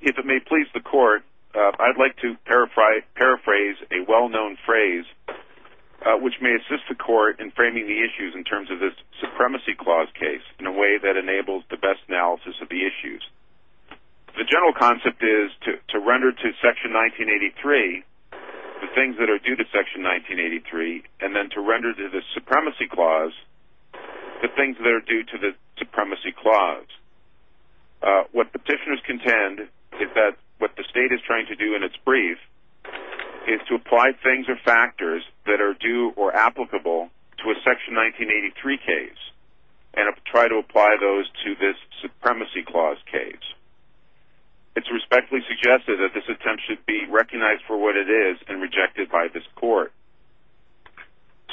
If it may please the court, I'd like to paraphrase a well-known phrase which may assist the court in framing the issues in terms of this Supremacy Clause case in a way that enables the best analysis of the issues. The general concept is to render to Section 1983 the things that are due to Section 1983 and then to render to the Supremacy Clause the things that are due to the Supremacy Clause. What petitioners contend is that what the State is trying to do in its brief is to apply things or factors that are due or applicable to a Section 1983 case and try to apply those to this Supremacy Clause case. It's respectfully suggested that this attempt should be recognized for what it is and rejected by this court.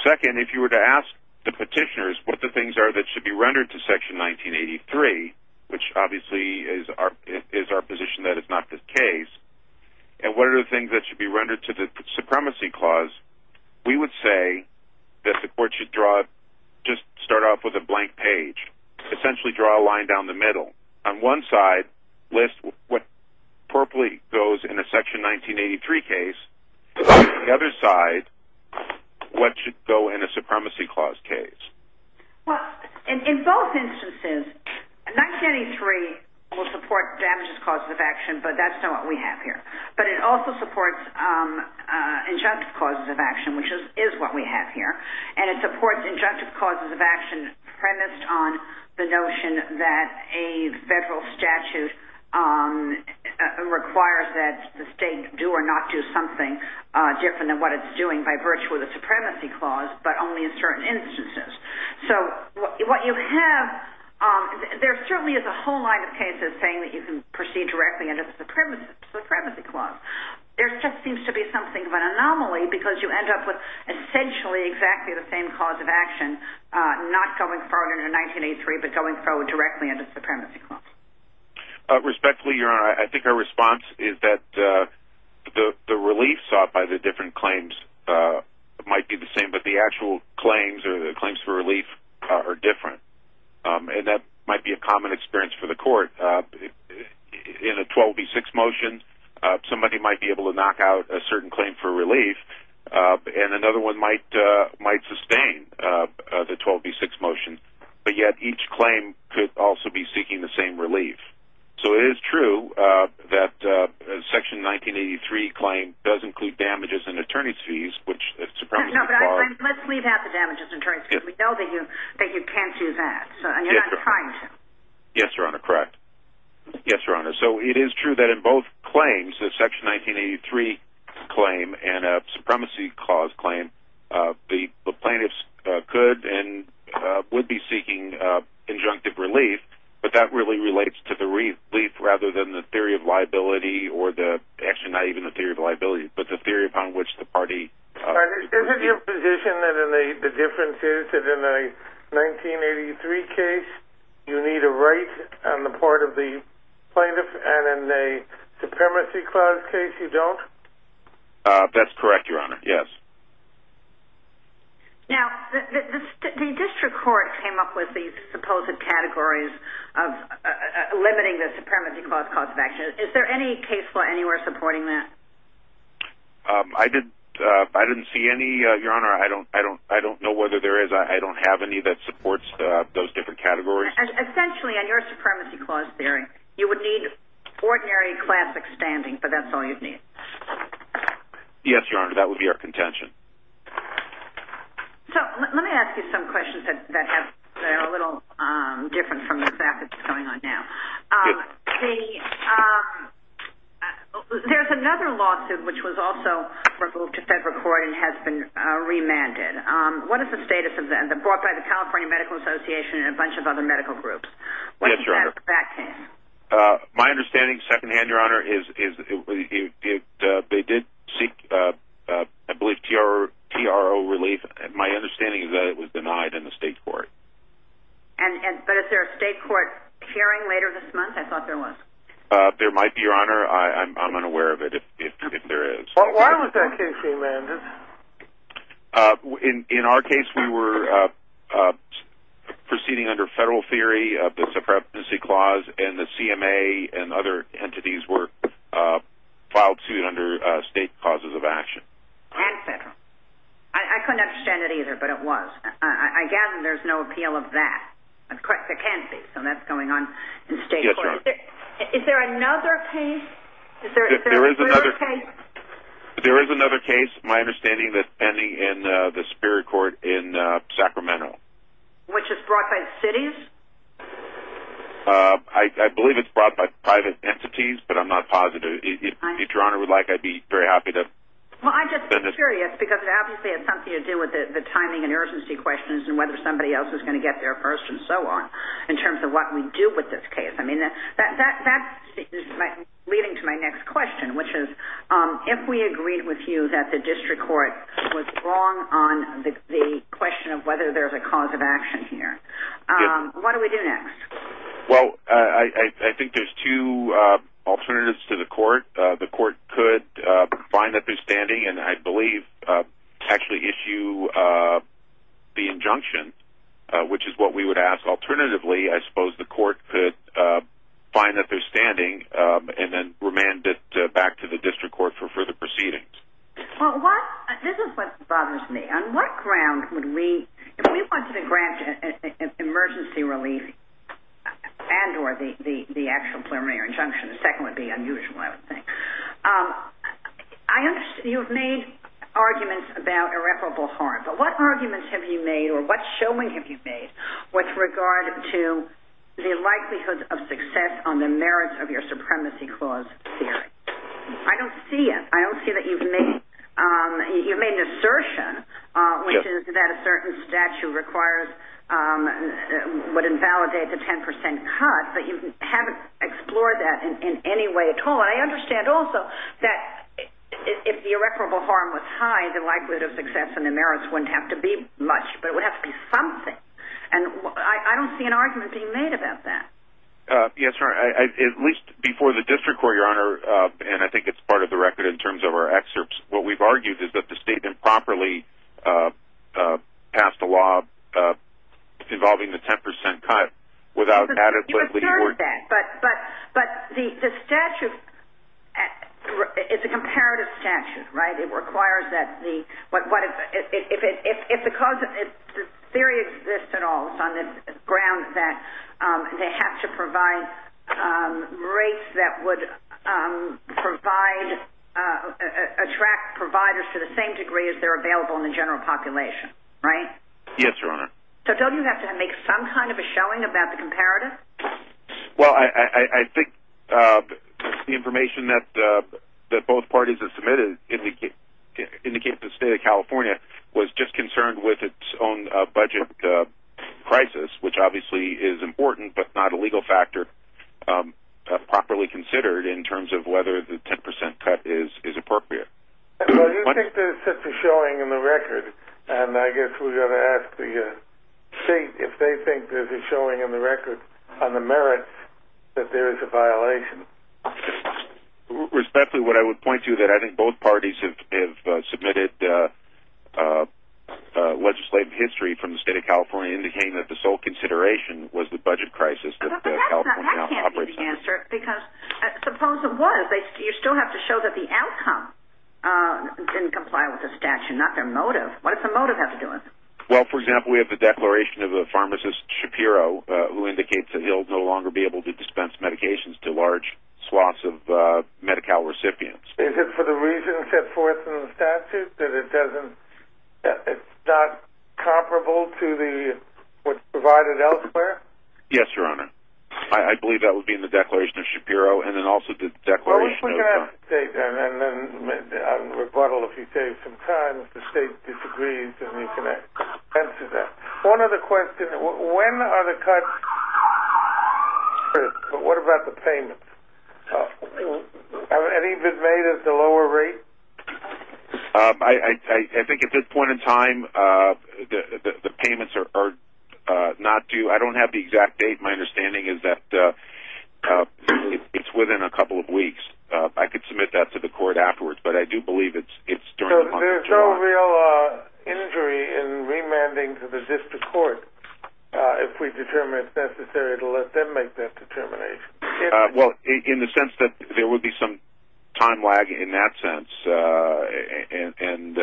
Second, if you were to ask the petitioners what the things are that should be rendered to Section 1983 which obviously is our position that it's not the case and what are the things that should be rendered to the Supremacy Clause we would say that the court should just start off with a blank page. Essentially draw a line down the middle. On one side, list what appropriately goes in a Section 1983 case. On the other side, what should go in a Supremacy Clause case. Well, in both instances, 1983 will support damages causes of action but that's not what we have here. But it also supports injunctive causes of action which is what we have here and it supports injunctive causes of action premised on the notion that a federal statute requires that the state do or not do something different than what it's doing by virtue of the Supremacy Clause but only in certain instances. So what you have, there certainly is a whole line of cases saying that you can proceed directly under the Supremacy Clause. There just seems to be something of an anomaly because you end up with essentially exactly the same cause of action not going forward in 1983 but going forward directly under the Supremacy Clause. Respectfully, Your Honor, I think our response is that the relief sought by the different claims might be the same but the actual claims or the claims for relief are different. And that might be a common experience for the court. In a 12B6 motion, somebody might be able to knock out a certain claim for relief and another one might sustain the 12B6 motion but yet each claim could also be seeking the same relief. So it is true that Section 1983 claim does include damages and attorney's fees which the Supremacy Clause... Let's leave out the damages and attorney's fees. We know that you can't do that and you're not trying to. Yes, Your Honor. Correct. Yes, Your Honor. So it is true that in both claims, the Section 1983 claim and the Supremacy Clause claim, the plaintiffs could and would be seeking conjunctive relief but that really relates to the relief rather than the theory of liability or actually not even the theory of liability but the theory upon which the party... Is it your position that the difference is that in a 1983 case you need a right on the part of the plaintiff and in a Supremacy Clause case you don't? That's correct, Your Honor. Yes. Now, the district court came up with these supposed categories of limiting the Supremacy Clause cause of action. Is there any case law anywhere supporting that? I didn't see any, Your Honor. I don't know whether there is. I don't have any that supports those different categories. Essentially, on your Supremacy Clause theory, you would need ordinary classic standing but that's all you'd need. Yes, Your Honor. That would be our contention. So let me ask you some questions that are a little different from the fact that it's going on now. There's another lawsuit which was also moved to federal court and has been remanded. What is the status of that? It was brought by the California Medical Association and a bunch of other medical groups. Yes, Your Honor. What's the status of that case? My understanding, second-hand, Your Honor, is that they did seek, I believe, TRO relief. My understanding is that it was denied in the state court. But is there a state court hearing later this month? I thought there was. There might be, Your Honor. I'm unaware of it, if there is. Why was that case remanded? In our case, we were proceeding under federal theory of the Supremacy Clause and the CMA and other entities were filed suit under state causes of action. And federal. I couldn't understand it either, but it was. I gather there's no appeal of that. There can be, so that's going on in state court. Yes, Your Honor. Is there another case? There is another case. My understanding is that it's pending in the Superior Court in Sacramento. Which is brought by cities? I believe it's brought by private entities, but I'm not positive. If Your Honor would like, I'd be very happy to. Well, I'm just curious because it obviously has something to do with the timing and urgency questions and whether somebody else is going to get there first and so on in terms of what we do with this case. That's leading to my next question, which is, if we agreed with you that the district court was wrong on the question of whether there's a cause of action here, what do we do next? Well, I think there's two alternatives to the court. The court could find that they're standing and, I believe, actually issue the injunction, which is what we would ask. Alternatively, I suppose the court could find that they're standing and then remand it back to the district court for further proceedings. Well, this is what bothers me. On what ground would we, if we wanted to grant emergency relief and or the actual preliminary injunction, the second would be unusual, I would think. You've made arguments about irreparable harm, but what arguments have you made or what showing have you made with regard to the likelihood of success on the merits of your supremacy clause theory? I don't see it. I don't see that you've made an assertion, which is that a certain statute would invalidate the 10% cut, but you haven't explored that in any way at all. But I understand also that if the irreparable harm was high, the likelihood of success on the merits wouldn't have to be much, but it would have to be something. And I don't see an argument being made about that. Yes, Your Honor. At least before the district court, Your Honor, and I think it's part of the record in terms of our excerpts, what we've argued is that the statement properly passed a law involving the 10% cut without adequately or – But the statute is a comparative statute, right? It requires that the – if the cause – if the theory exists at all, it's on the grounds that they have to provide rates that would provide – attract providers to the same degree as they're available in the general population, right? Yes, Your Honor. So don't you have to make some kind of a showing about the comparative? Well, I think the information that both parties have submitted indicates the state of California was just concerned with its own budget crisis, which obviously is important, but not a legal factor properly considered in terms of whether the 10% cut is appropriate. Well, you think there's such a showing in the record, and I guess we're going to ask the state if they think there's a showing in the record on the merits that there is a violation. Respectfully, what I would point to is that I think both parties have submitted legislative history from the state of California indicating that the sole consideration was the budget crisis that California now operates under. But that can't be the answer, because suppose it was. You still have to show that the outcome didn't comply with the statute, not their motive. What does the motive have to do with it? Well, for example, we have the declaration of a pharmacist, Shapiro, who indicates that he'll no longer be able to dispense medications to large swaths of Medi-Cal recipients. Is it for the reason set forth in the statute that it's not comparable to what's provided elsewhere? Yes, Your Honor. I believe that would be in the declaration of Shapiro, and then also the declaration of- Well, we can ask the state, and then on rebuttal, if you take some time, if the state disagrees, then you can answer that. One other question. When are the cuts? But what about the payments? Have any been made at the lower rate? I think at this point in time, the payments are not due. I don't have the exact date. My understanding is that it's within a couple of weeks. I could submit that to the court afterwards, but I do believe it's during the month of July. So there's no real injury in remanding to the district court if we determine it's necessary to let them make that determination? Well, in the sense that there would be some time lag in that sense, and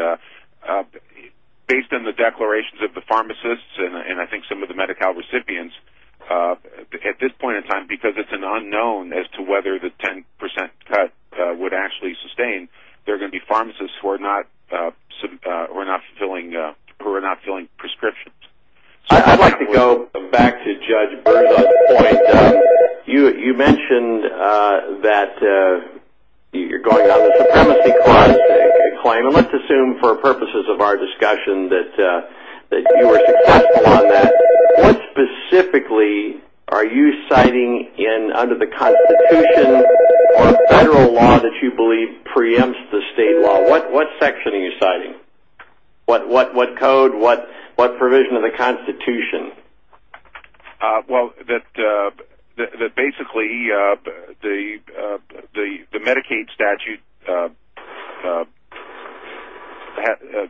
based on the declarations of the pharmacists and I think some of the Medi-Cal recipients, at this point in time, because it's an unknown as to whether the 10% cut would actually sustain, there are going to be pharmacists who are not filling prescriptions. I'd like to go back to Judge Brewer's point. You mentioned that you're going on the Supremacy Clause claim, and let's assume for purposes of our discussion that you were successful on that. What specifically are you citing under the Constitution or federal law that you believe preempts the state law? What section are you citing? What code? What provision of the Constitution? Well, that basically the Medicaid statute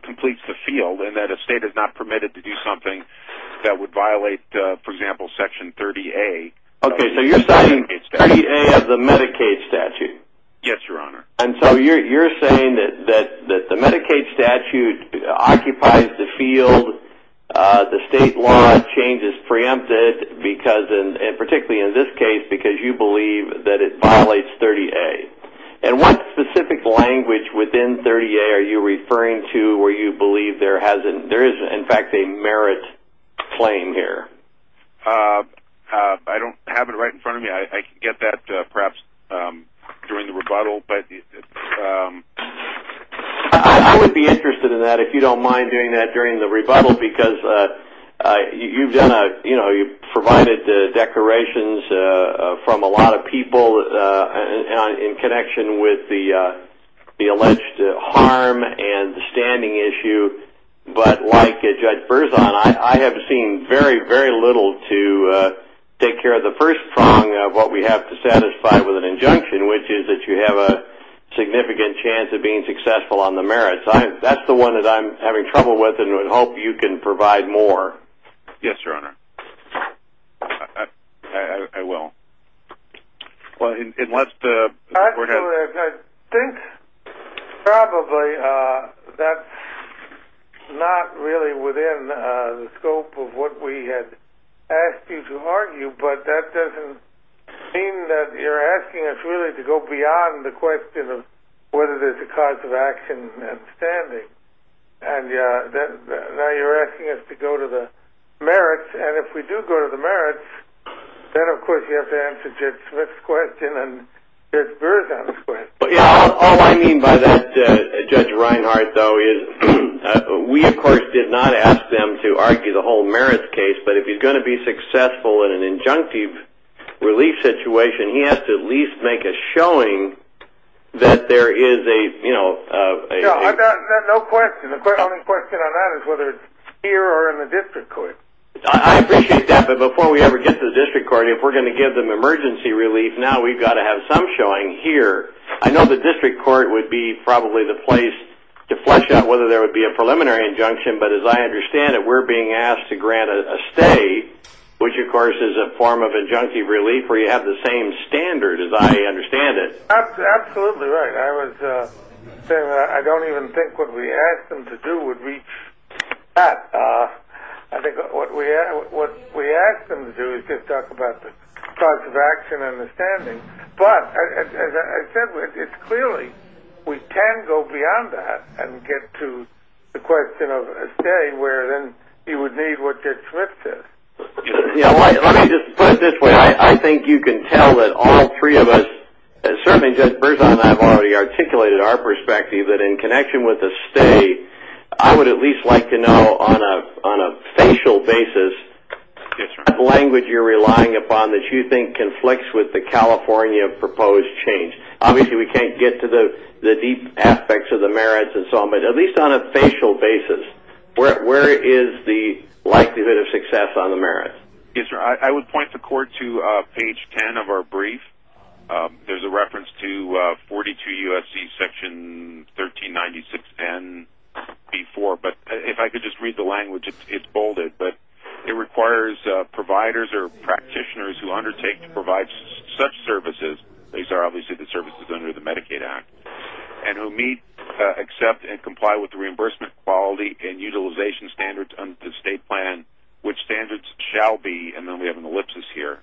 completes the field, and that a state is not permitted to do something that would violate, for example, Section 30A. Okay, so you're citing 30A of the Medicaid statute? Yes, Your Honor. And so you're saying that the Medicaid statute occupies the field, the state law changes, preempts it, and particularly in this case because you believe that it violates 30A. And what specific language within 30A are you referring to where you believe there is, in fact, a merit claim here? I don't have it right in front of me. I can get that perhaps during the rebuttal. I would be interested in that if you don't mind doing that during the rebuttal, because you've provided declarations from a lot of people in connection with the alleged harm and the standing issue. But like Judge Berzon, I have seen very, very little to take care of the first prong of what we have to satisfy with an injunction, which is that you have a significant chance of being successful on the merits. That's the one that I'm having trouble with and would hope you can provide more. Yes, Your Honor. I will. And let's go ahead. I think probably that's not really within the scope of what we had asked you to argue, but that doesn't mean that you're asking us really to go beyond the question of whether there's a cause of action and standing. Now you're asking us to go to the merits, and if we do go to the merits, then of course you have to answer Judge Smith's question and Judge Berzon's question. All I mean by that, Judge Reinhart, though, is we of course did not ask them to argue the whole merits case, but if he's going to be successful in an injunctive relief situation, he has to at least make a showing that there is a... No question. The only question on that is whether it's here or in the district court. I appreciate that, but before we ever get to the district court, if we're going to give them emergency relief, now we've got to have some showing here. I know the district court would be probably the place to flesh out whether there would be a preliminary injunction, but as I understand it, we're being asked to grant a stay, which of course is a form of injunctive relief where you have the same standard, as I understand it. Absolutely right. I was saying that I don't even think what we asked them to do would reach that. I think what we asked them to do is just talk about the cause of action and the standing, but as I said, it's clearly we can go beyond that and get to the question of a stay where then you would need what Judge Smith said. Let me just put it this way. I think you can tell that all three of us, and certainly Judge Berzon and I have already articulated our perspective that in connection with a stay, I would at least like to know on a facial basis what language you're relying upon that you think conflicts with the California proposed change. Obviously we can't get to the deep aspects of the merits and so on, but at least on a facial basis, where is the likelihood of success on the merits? Yes, sir. I would point the court to page 10 of our brief. There's a reference to 42 U.S.C. section 1396NB4, but if I could just read the language, it's bolded, but it requires providers or practitioners who undertake to provide such services, these are obviously the services under the Medicaid Act, and who meet, accept, and comply with the reimbursement quality and utilization standards under the state plan, which standards shall be, and then we have an ellipsis here,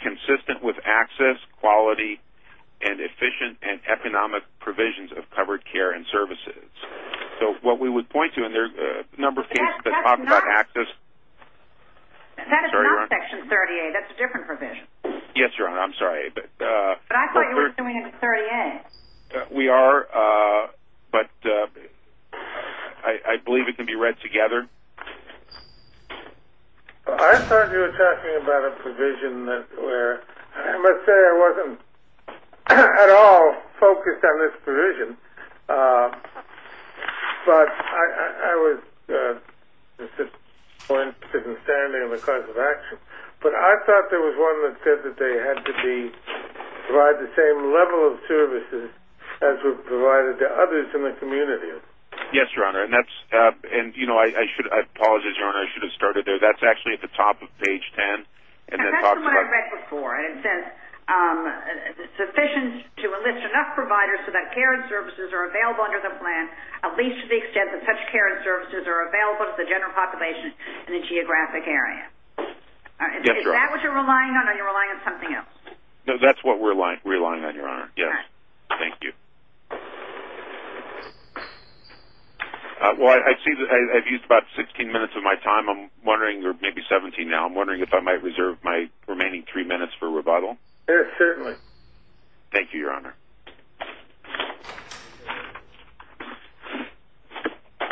consistent with access, quality, and efficient and economic provisions of covered care and services. So what we would point to, and there are a number of things that talk about access. That is not section 38. That's a different provision. Yes, Your Honor, I'm sorry. But I thought you were doing it in 38. We are, but I believe it can be read together. I thought you were talking about a provision where I must say I wasn't at all focused on this provision, but I was consistent in standing on the cause of action. But I thought there was one that said that they had to provide the same level of services as were provided to others in the community. Yes, Your Honor, and I apologize, Your Honor, I should have started there. That's actually at the top of page 10. That's the one I read before. It says sufficient to enlist enough providers so that care and services are available under the plan, at least to the extent that such care and services are available to the general population in the geographic area. Is that what you're relying on, or are you relying on something else? No, that's what we're relying on, Your Honor. Yes. Thank you. Well, I see that I've used about 16 minutes of my time. I'm wondering, or maybe 17 now, I'm wondering if I might reserve my remaining three minutes for rebuttal. Certainly. Thank you, Your Honor. Good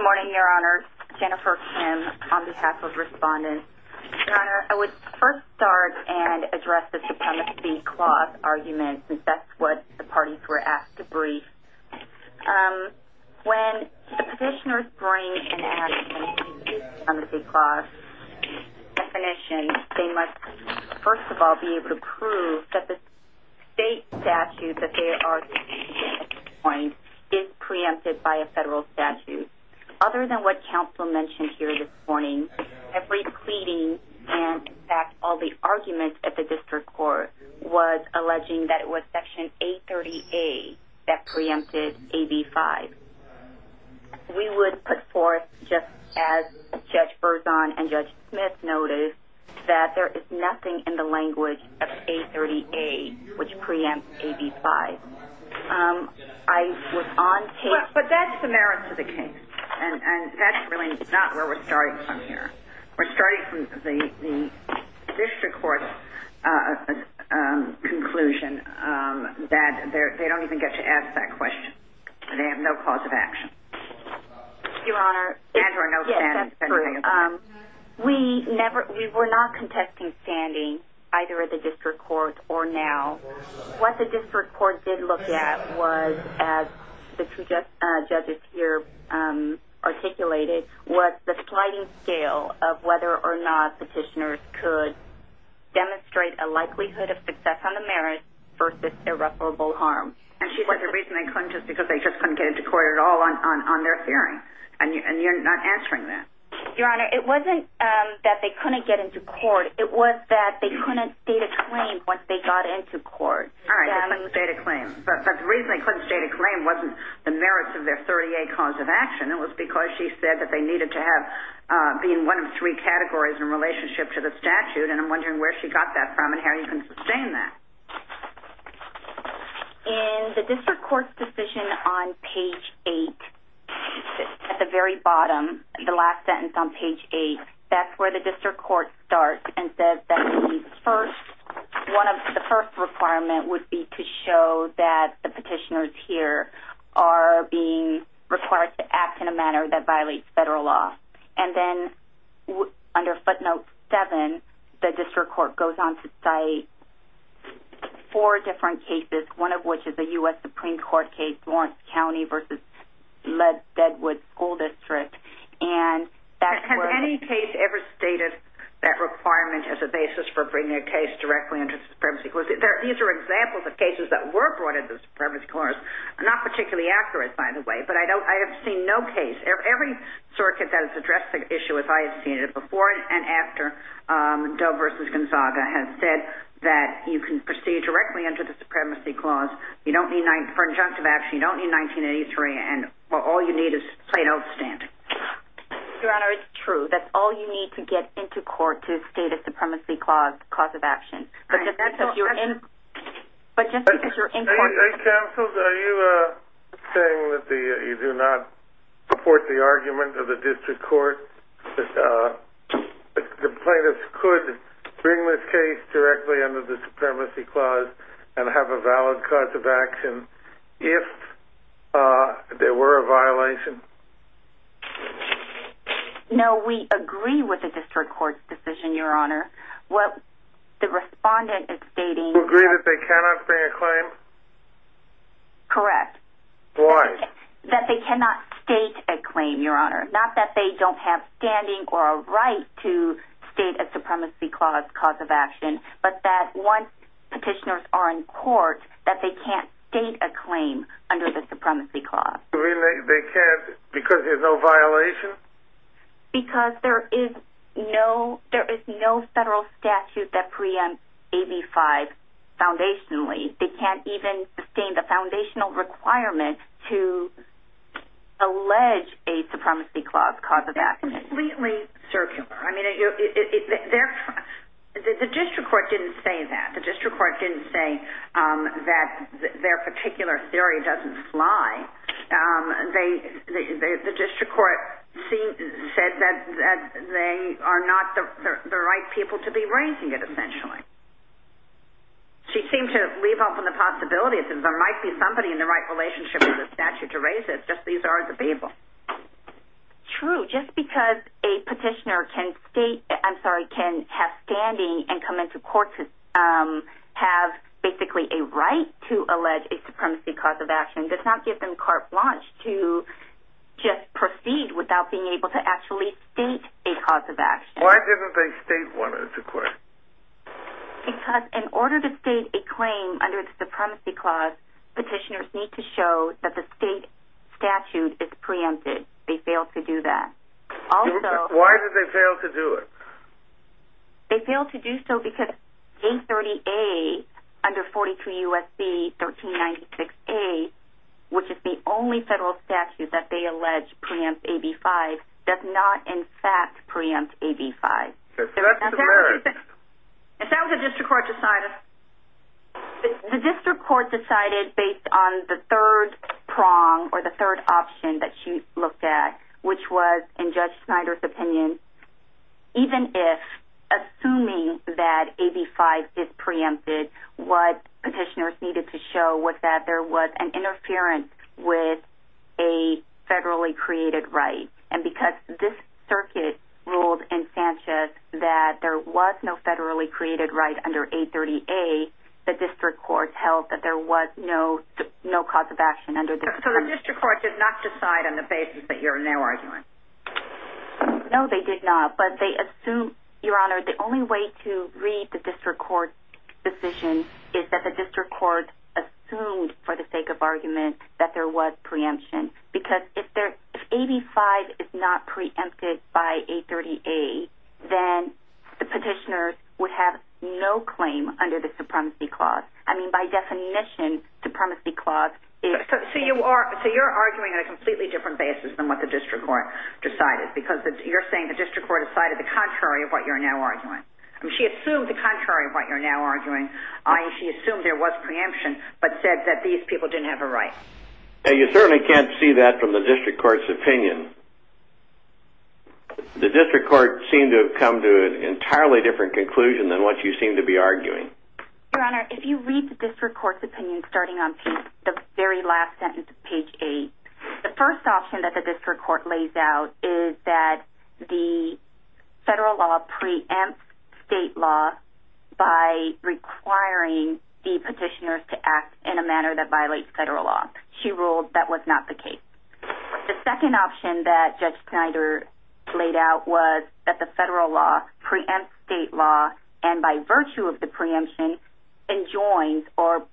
morning, Your Honor. Jennifer Kim on behalf of respondents. Your Honor, I would first start and address the supremacy clause argument, since that's what the parties were asked to brief. When the petitioners bring and ask for the supremacy clause definition, they must, first of all, be able to prove that the state statute that they are seeking at this point is preempted by a federal statute. Other than what counsel mentioned here this morning, every pleading and, in fact, all the arguments at the district court, was alleging that it was Section A30A that preempted AB5. We would put forth, just as Judge Berzon and Judge Smith noticed, that there is nothing in the language of A30A which preempts AB5. I was on tape. But that's the merits of the case, and that's really not where we're starting from here. We're starting from the district court's conclusion that they don't even get to ask that question. They have no cause of action. Your Honor, yes, that's true. We were not contesting standing, either at the district court or now. What the district court did look at was, as the two judges here articulated, was the sliding scale of whether or not petitioners could demonstrate a likelihood of success on the merits versus irreparable harm. And she said the reason they couldn't is because they just couldn't get into court at all on their hearing. And you're not answering that. Your Honor, it wasn't that they couldn't get into court. It was that they couldn't state a claim once they got into court. All right, they couldn't state a claim. But the reason they couldn't state a claim wasn't the merits of their 30A cause of action. It was because she said that they needed to be in one of three categories in relationship to the statute, and I'm wondering where she got that from and how you can sustain that. In the district court's decision on page 8, at the very bottom, the last sentence on page 8, that's where the district court starts and says that the first requirement would be to show that the petitioners here are being required to act in a manner that violates federal law. And then under footnote 7, the district court goes on to cite four different cases, one of which is a U.S. Supreme Court case, Lawrence County v. Ledwood School District. Has any case ever stated that requirement as a basis for bringing a case directly into the Supremacy Court? These are examples of cases that were brought into the Supremacy Court. Not particularly accurate, by the way, but I have seen no case. Every circuit that has addressed the issue, as I have seen it, before and after Doe v. Gonzaga, has said that you can proceed directly into the Supremacy Clause. You don't need 19 – for injunctive action, you don't need 1983. And all you need is plain old standing. Your Honor, it's true. That's all you need to get into court to state a Supremacy Clause cause of action. But just because you're in court… Counsel, are you saying that you do not support the argument of the district court that the plaintiffs could bring this case directly under the Supremacy Clause and have a valid cause of action if there were a violation? No, we agree with the district court's decision, Your Honor. What the respondent is stating… You agree that they cannot bring a claim? Correct. Why? That they cannot state a claim, Your Honor. Not that they don't have standing or a right to state a Supremacy Clause cause of action, but that once petitioners are in court, that they can't state a claim under the Supremacy Clause. You mean they can't because there's no violation? Because there is no federal statute that preempts AB 5 foundationally. They can't even sustain the foundational requirement to allege a Supremacy Clause cause of action. Completely circular. I mean, the district court didn't say that. The district court didn't say that their particular theory doesn't fly. The district court said that they are not the right people to be raising it, essentially. She seemed to leave open the possibility that there might be somebody in the right relationship with the statute to raise it. Just these are the people. True. Just because a petitioner can have standing and come into court to have basically a right to allege a Supremacy Clause of action does not give them carte blanche to just proceed without being able to actually state a cause of action. Why didn't they state one in the court? Because in order to state a claim under the Supremacy Clause, petitioners need to show that the state statute is preempted. They failed to do that. Why did they fail to do it? They failed to do so because J30A under 42 U.S.C. 1396A, which is the only federal statute that they allege preempts AB5, does not in fact preempt AB5. That's hilarious. If that was what the district court decided. The district court decided based on the third prong or the third option that she looked at, which was, in Judge Snyder's opinion, even if, assuming that AB5 is preempted, what petitioners needed to show was that there was an interference with a federally created right. And because this circuit ruled in Sanchez that there was no federally created right under A30A, the district court held that there was no cause of action under this. So the district court did not decide on the basis that you're now arguing. No, they did not. But they assumed, Your Honor, the only way to read the district court decision is that the district court assumed for the sake of argument that there was preemption. Because if AB5 is not preempted by A30A, then the petitioners would have no claim under the Supremacy Clause. I mean, by definition, Supremacy Clause is... So you're arguing on a completely different basis than what the district court decided. Because you're saying the district court decided the contrary of what you're now arguing. She assumed the contrary of what you're now arguing. She assumed there was preemption, but said that these people didn't have a right. You certainly can't see that from the district court's opinion. The district court seemed to have come to an entirely different conclusion than what you seem to be arguing. Your Honor, if you read the district court's opinion starting on the very last sentence of page 8, the first option that the district court lays out is that the federal law preempts state law by requiring the petitioners to act in a manner that violates federal law. She ruled that was not the case. The second option that Judge Snyder laid out was that the federal law preempts state law and, by virtue of the preemption, enjoins or,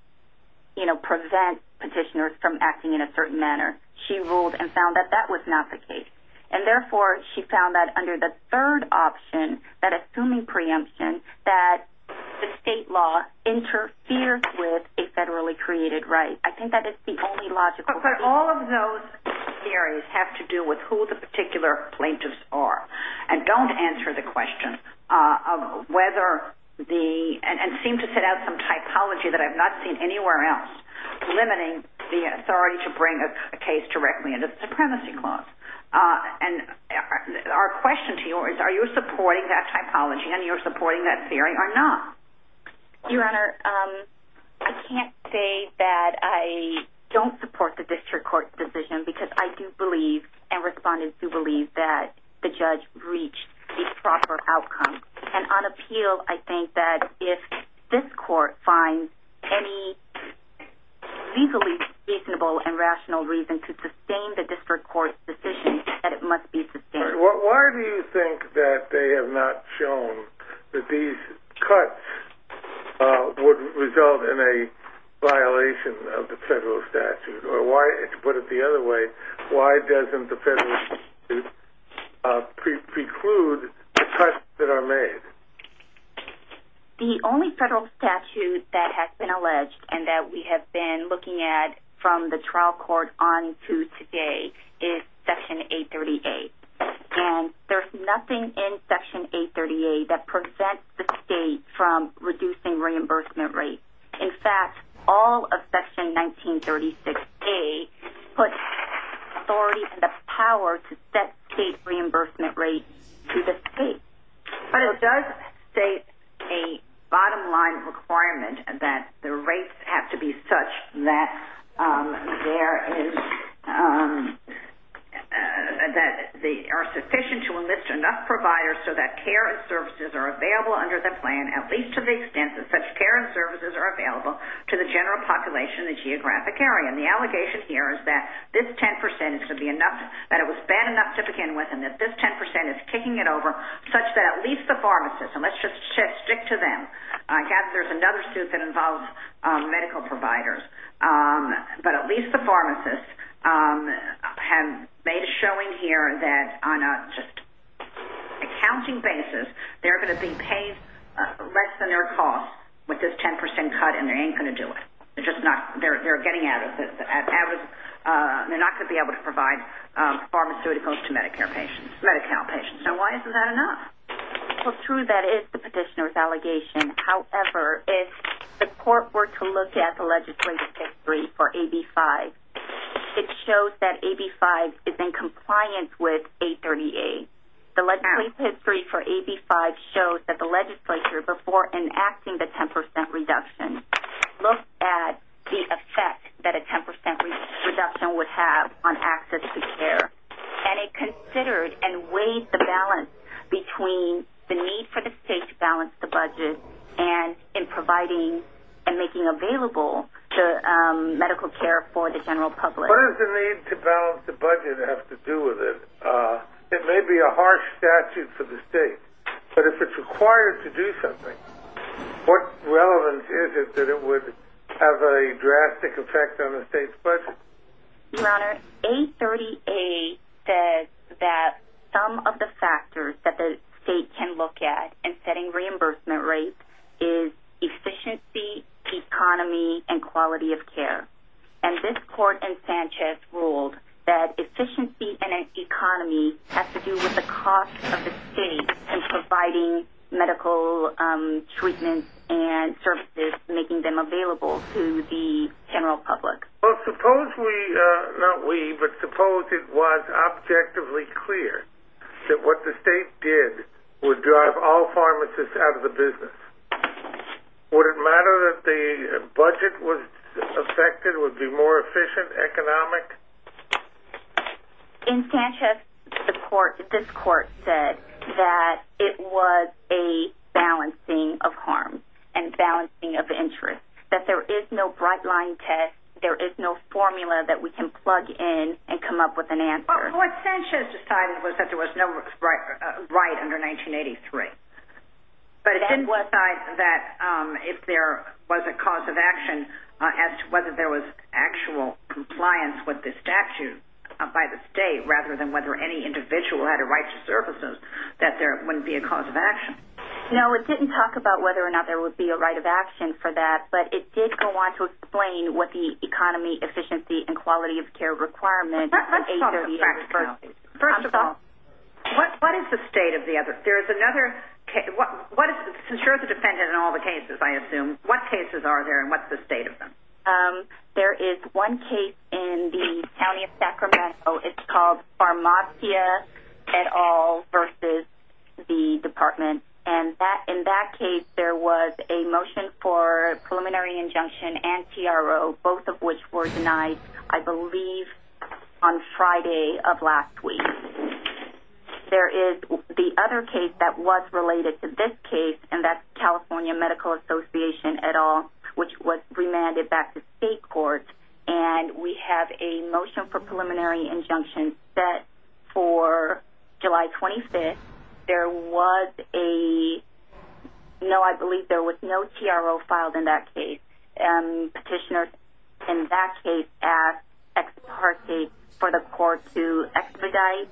you know, prevents petitioners from acting in a certain manner. She ruled and found that that was not the case. And, therefore, she found that under the third option, that assuming preemption, that the state law interferes with a federally created right. I think that is the only logical conclusion. But all of those theories have to do with who the particular plaintiffs are. And don't answer the question of whether the—and seem to set out some typology that I've not seen anywhere else limiting the authority to bring a case directly into the Supremacy Clause. And our question to you is, are you supporting that typology and you're supporting that theory or not? Your Honor, I can't say that I don't support the district court's decision because I do believe and respondents do believe that the judge reached a proper outcome. And on appeal, I think that if this court finds any legally reasonable and rational reason to sustain the district court's decision, that it must be sustained. Why do you think that they have not shown that these cuts would result in a violation of the federal statute? Or to put it the other way, why doesn't the federal statute preclude the cuts that are made? The only federal statute that has been alleged and that we have been looking at from the trial court on to today is Section 838. And there's nothing in Section 838 that prevents the state from reducing reimbursement rates. In fact, all of Section 1936A puts authority and the power to set state reimbursement rates to the state. But it does state a bottom line requirement that the rates have to be such that there is – that they are sufficient to enlist enough providers so that care and services are available under the plan, at least to the extent that such care and services are available to the general population in the geographic area. And the allegation here is that this 10% is to be enough, that it was bad enough to begin with, and that this 10% is kicking it over such that at least the pharmacist – and let's just stick to them. I guess there's another suit that involves medical providers. But at least the pharmacists have made a showing here that on a just accounting basis, they're going to be paid less than their cost with this 10% cut, and they ain't going to do it. They're just not – they're getting at it. They're not going to be able to provide pharmaceuticals to Medicare patients, Medi-Cal patients. So why isn't that enough? Well, true, that is the petitioner's allegation. However, if the court were to look at the legislative history for AB-5, it shows that AB-5 is in compliance with 838. The legislative history for AB-5 shows that the legislature, before enacting the 10% reduction, looked at the effect that a 10% reduction would have on access to care. And it considered and weighed the balance between the need for the state to balance the budget and in providing and making available the medical care for the general public. What does the need to balance the budget have to do with it? It may be a harsh statute for the state, but if it's required to do something, what relevance is it that it would have a drastic effect on the state's budget? Your Honor, 838 says that some of the factors that the state can look at in setting reimbursement rates is efficiency, economy, and quality of care. And this court in Sanchez ruled that efficiency and economy have to do with the cost of the state in providing medical treatments and services, making them available to the general public. Well, suppose we, not we, but suppose it was objectively clear that what the state did would drive all pharmacists out of the business. Would it matter that the budget was affected, would it be more efficient, economic? In Sanchez, this court said that it was a balancing of harm and balancing of interest, that there is no bright-line test, there is no formula that we can plug in and come up with an answer. What Sanchez decided was that there was no right under 1983. But it didn't decide that if there was a cause of action as to whether there was actual compliance with the statute by the state rather than whether any individual had a right to services, that there wouldn't be a cause of action. No, it didn't talk about whether or not there would be a right of action for that, but it did go on to explain what the economy, efficiency, and quality of care requirement was. First of all, what is the state of the other? There is another case. Since you're the defendant in all the cases, I assume, what cases are there and what's the state of them? There is one case in the county of Sacramento. It's called Farmacia et al. versus the department. In that case, there was a motion for preliminary injunction and TRO, both of which were denied, I believe, on Friday of last week. There is the other case that was related to this case, and that's California Medical Association et al., which was remanded back to state courts. We have a motion for preliminary injunction set for July 25th. There was a – no, I believe there was no TRO filed in that case. Petitioners in that case asked ex parte for the court to expedite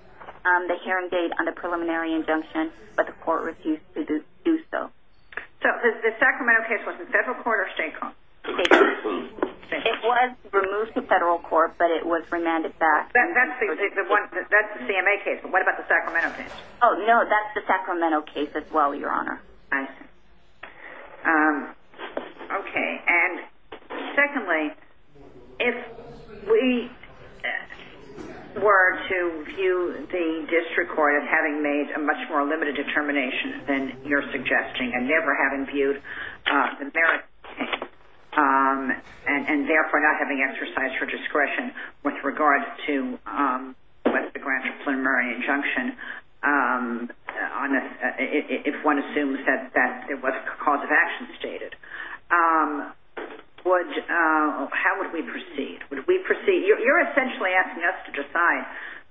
the hearing date on the preliminary injunction, but the court refused to do so. So the Sacramento case was in federal court or state court? State court. It was removed to federal court, but it was remanded back. That's the CMA case, but what about the Sacramento case? Oh, no, that's the Sacramento case as well, Your Honor. I see. Okay, and secondly, if we were to view the district court as having made a much more limited determination than you're suggesting and never having viewed the merits, and therefore not having exercise for discretion with regard to the grant of preliminary injunction, if one assumes that there was a cause of action stated, how would we proceed? Would we proceed – you're essentially asking us to decide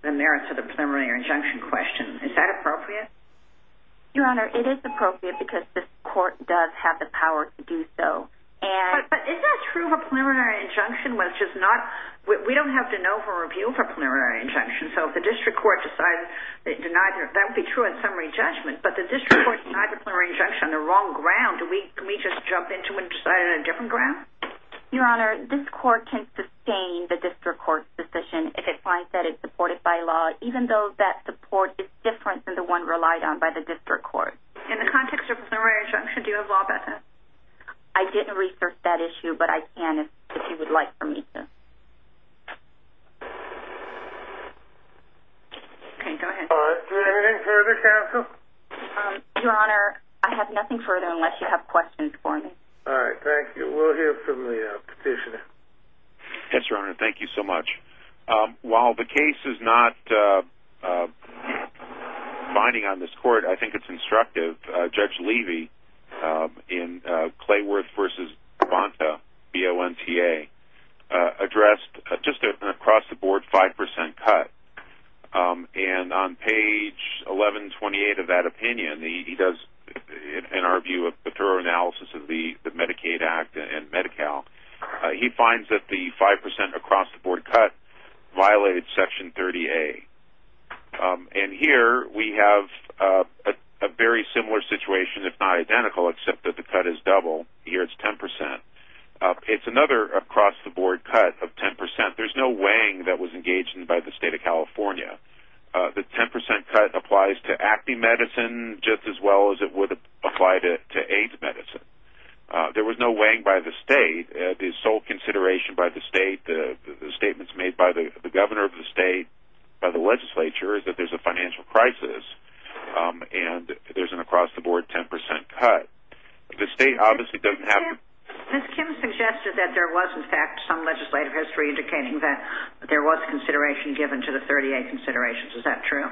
the merits of the preliminary injunction question. Is that appropriate? Your Honor, it is appropriate because this court does have the power to do so. But is that true of a preliminary injunction, which is not – we don't have to know for review for a preliminary injunction. So if the district court decides – that would be true in summary judgment, but the district court denied the preliminary injunction on the wrong ground, do we just jump into it and decide on a different ground? Your Honor, this court can sustain the district court's decision if it finds that it's supported by law, even though that support is different than the one relied on by the district court. In the context of a preliminary injunction, do you have law about that? I didn't research that issue, but I can if you would like for me to. Okay, go ahead. All right, is there anything further, counsel? Your Honor, I have nothing further unless you have questions for me. All right, thank you. We'll hear from the petitioner. Yes, Your Honor, thank you so much. While the case is not binding on this court, I think it's instructive. Judge Levy in Clayworth v. Bonta, B-O-N-T-A, addressed just an across-the-board 5% cut. And on page 1128 of that opinion, he does, in our view, a thorough analysis of the Medicaid Act and Medi-Cal. He finds that the 5% across-the-board cut violated Section 30A. And here we have a very similar situation, if not identical, except that the cut is double. Here it's 10%. It's another across-the-board cut of 10%. There's no weighing that was engaged in by the State of California. The 10% cut applies to acne medicine just as well as it would apply to AIDS medicine. There was no weighing by the state. The sole consideration by the state, the statements made by the governor of the state, by the legislature, is that there's a financial crisis and there's an across-the-board 10% cut. The state obviously doesn't have to... Ms. Kim suggested that there was, in fact, some legislative history indicating that there was consideration given to the 30A considerations. Is that true?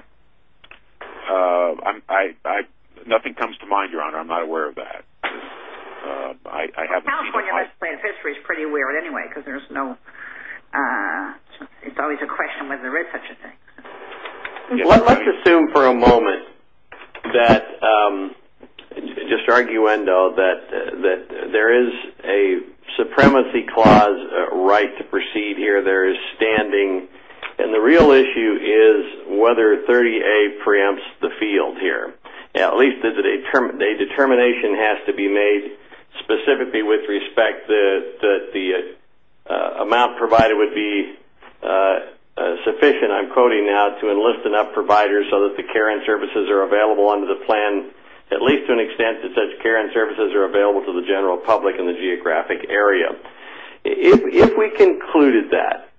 Nothing comes to mind, Your Honor. I'm not aware of that. California's legislative history is pretty weird anyway because there's no... It's always a question whether there is such a thing. Let's assume for a moment that, just arguendo, that there is a supremacy clause right to proceed here. There is standing. The real issue is whether 30A preempts the field here. At least a determination has to be made specifically with respect that the amount provided would be sufficient, I'm quoting now, to enlist enough providers so that the care and services are available under the plan, at least to an extent that such care and services are available to the general public in the geographic area. If we concluded that,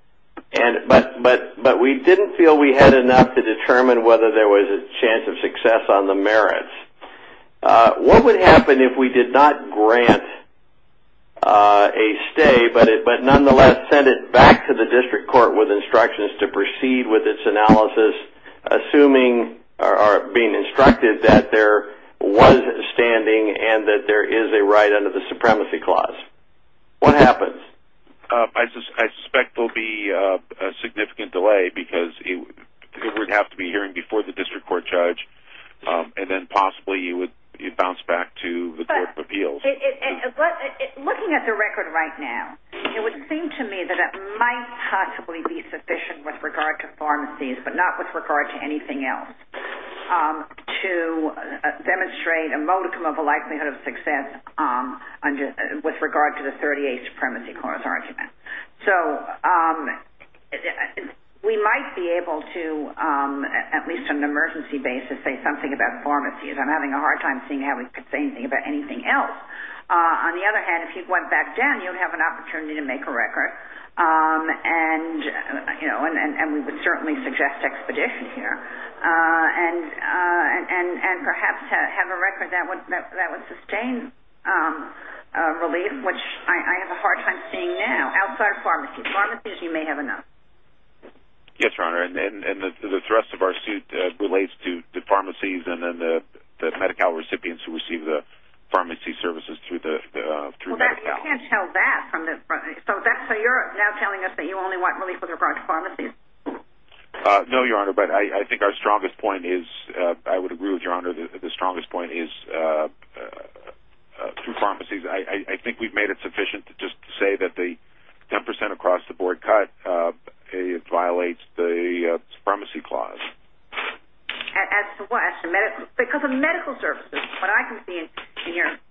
but we didn't feel we had enough to determine whether there was a chance of success on the merits, what would happen if we did not grant a stay, but nonetheless sent it back to the district court with instructions to proceed with its analysis, assuming or being instructed that there was standing and that there is a right under the supremacy clause? I suspect there will be a significant delay because it would have to be hearing before the district court judge and then possibly it would bounce back to the court of appeals. Looking at the record right now, it would seem to me that it might possibly be sufficient with regard to pharmacies, but not with regard to anything else, to demonstrate a modicum of a likelihood of success with regard to the 38 supremacy clause argument. So we might be able to, at least on an emergency basis, say something about pharmacies. I'm having a hard time seeing how we could say anything about anything else. On the other hand, if you went back down, you would have an opportunity to make a record, and we would certainly suggest expedition here, and perhaps have a record that would sustain relief, which I have a hard time seeing now outside of pharmacies. Pharmacies, you may have enough. Yes, Your Honor, and the rest of our suit relates to the pharmacies and then the Medi-Cal recipients who receive the pharmacy services through Medi-Cal. You can't tell that. So you're now telling us that you only want relief with regard to pharmacies? No, Your Honor, but I think our strongest point is, I would agree with Your Honor, the strongest point is through pharmacies. I think we've made it sufficient to just say that the 10% across the board cut violates the supremacy clause. As to what? Because of medical services.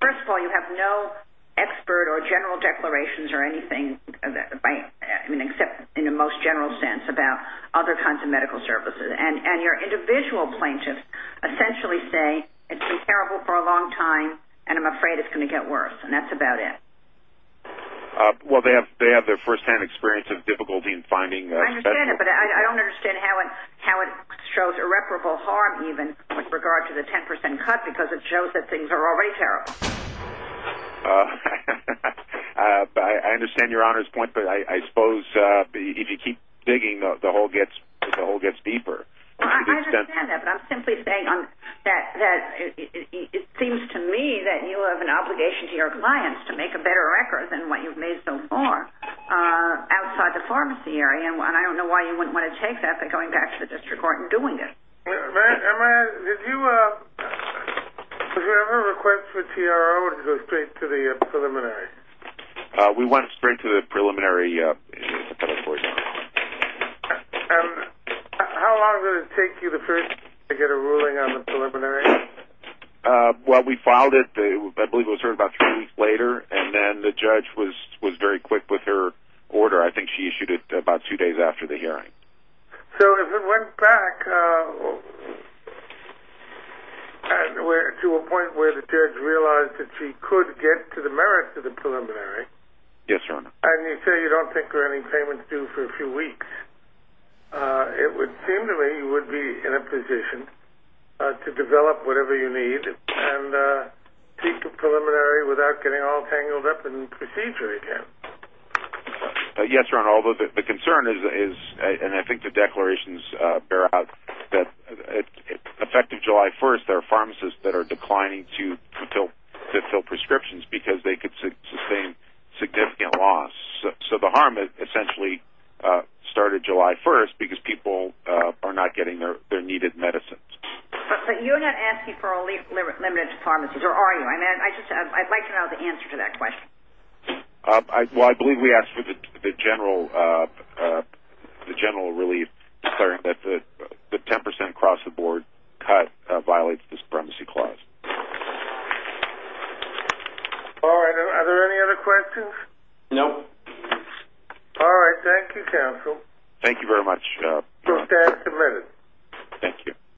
First of all, you have no expert or general declarations or anything, except in the most general sense about other kinds of medical services, and your individual plaintiffs essentially say it's been terrible for a long time, and I'm afraid it's going to get worse, and that's about it. Well, they have their firsthand experience of difficulty in finding specialists. I understand it, but I don't understand how it shows irreparable harm, even, with regard to the 10% cut, because it shows that things are already terrible. I understand Your Honor's point, but I suppose if you keep digging, the hole gets deeper. I understand that, but I'm simply saying that it seems to me that you have an obligation to your clients to make a better record than what you've made so far outside the pharmacy area, and I don't know why you wouldn't want to take that by going back to the district court and doing it. Did you ever request for TRO to go straight to the preliminary? We went straight to the preliminary. How long did it take you to get a ruling on the preliminary? Well, we filed it, I believe it was heard about three weeks later, and then the judge was very quick with her order. So if it went back to a point where the judge realized that she could get to the merits of the preliminary, and you say you don't think there are any payments due for a few weeks, it would seem to me you would be in a position to develop whatever you need and seek the preliminary without getting all tangled up in procedure again. Yes, Ron, although the concern is, and I think the declarations bear out, that effective July 1st there are pharmacists that are declining to fill prescriptions because they could sustain significant loss. So the harm essentially started July 1st because people are not getting their needed medicines. But you're not asking for a limited pharmacy, or are you? I'd like to know the answer to that question. Well, I believe we asked for the general relief, that the 10% across-the-board cut violates the Supremacy Clause. All right, are there any other questions? No. All right, thank you, counsel. Thank you very much. You're stand submitted. Thank you.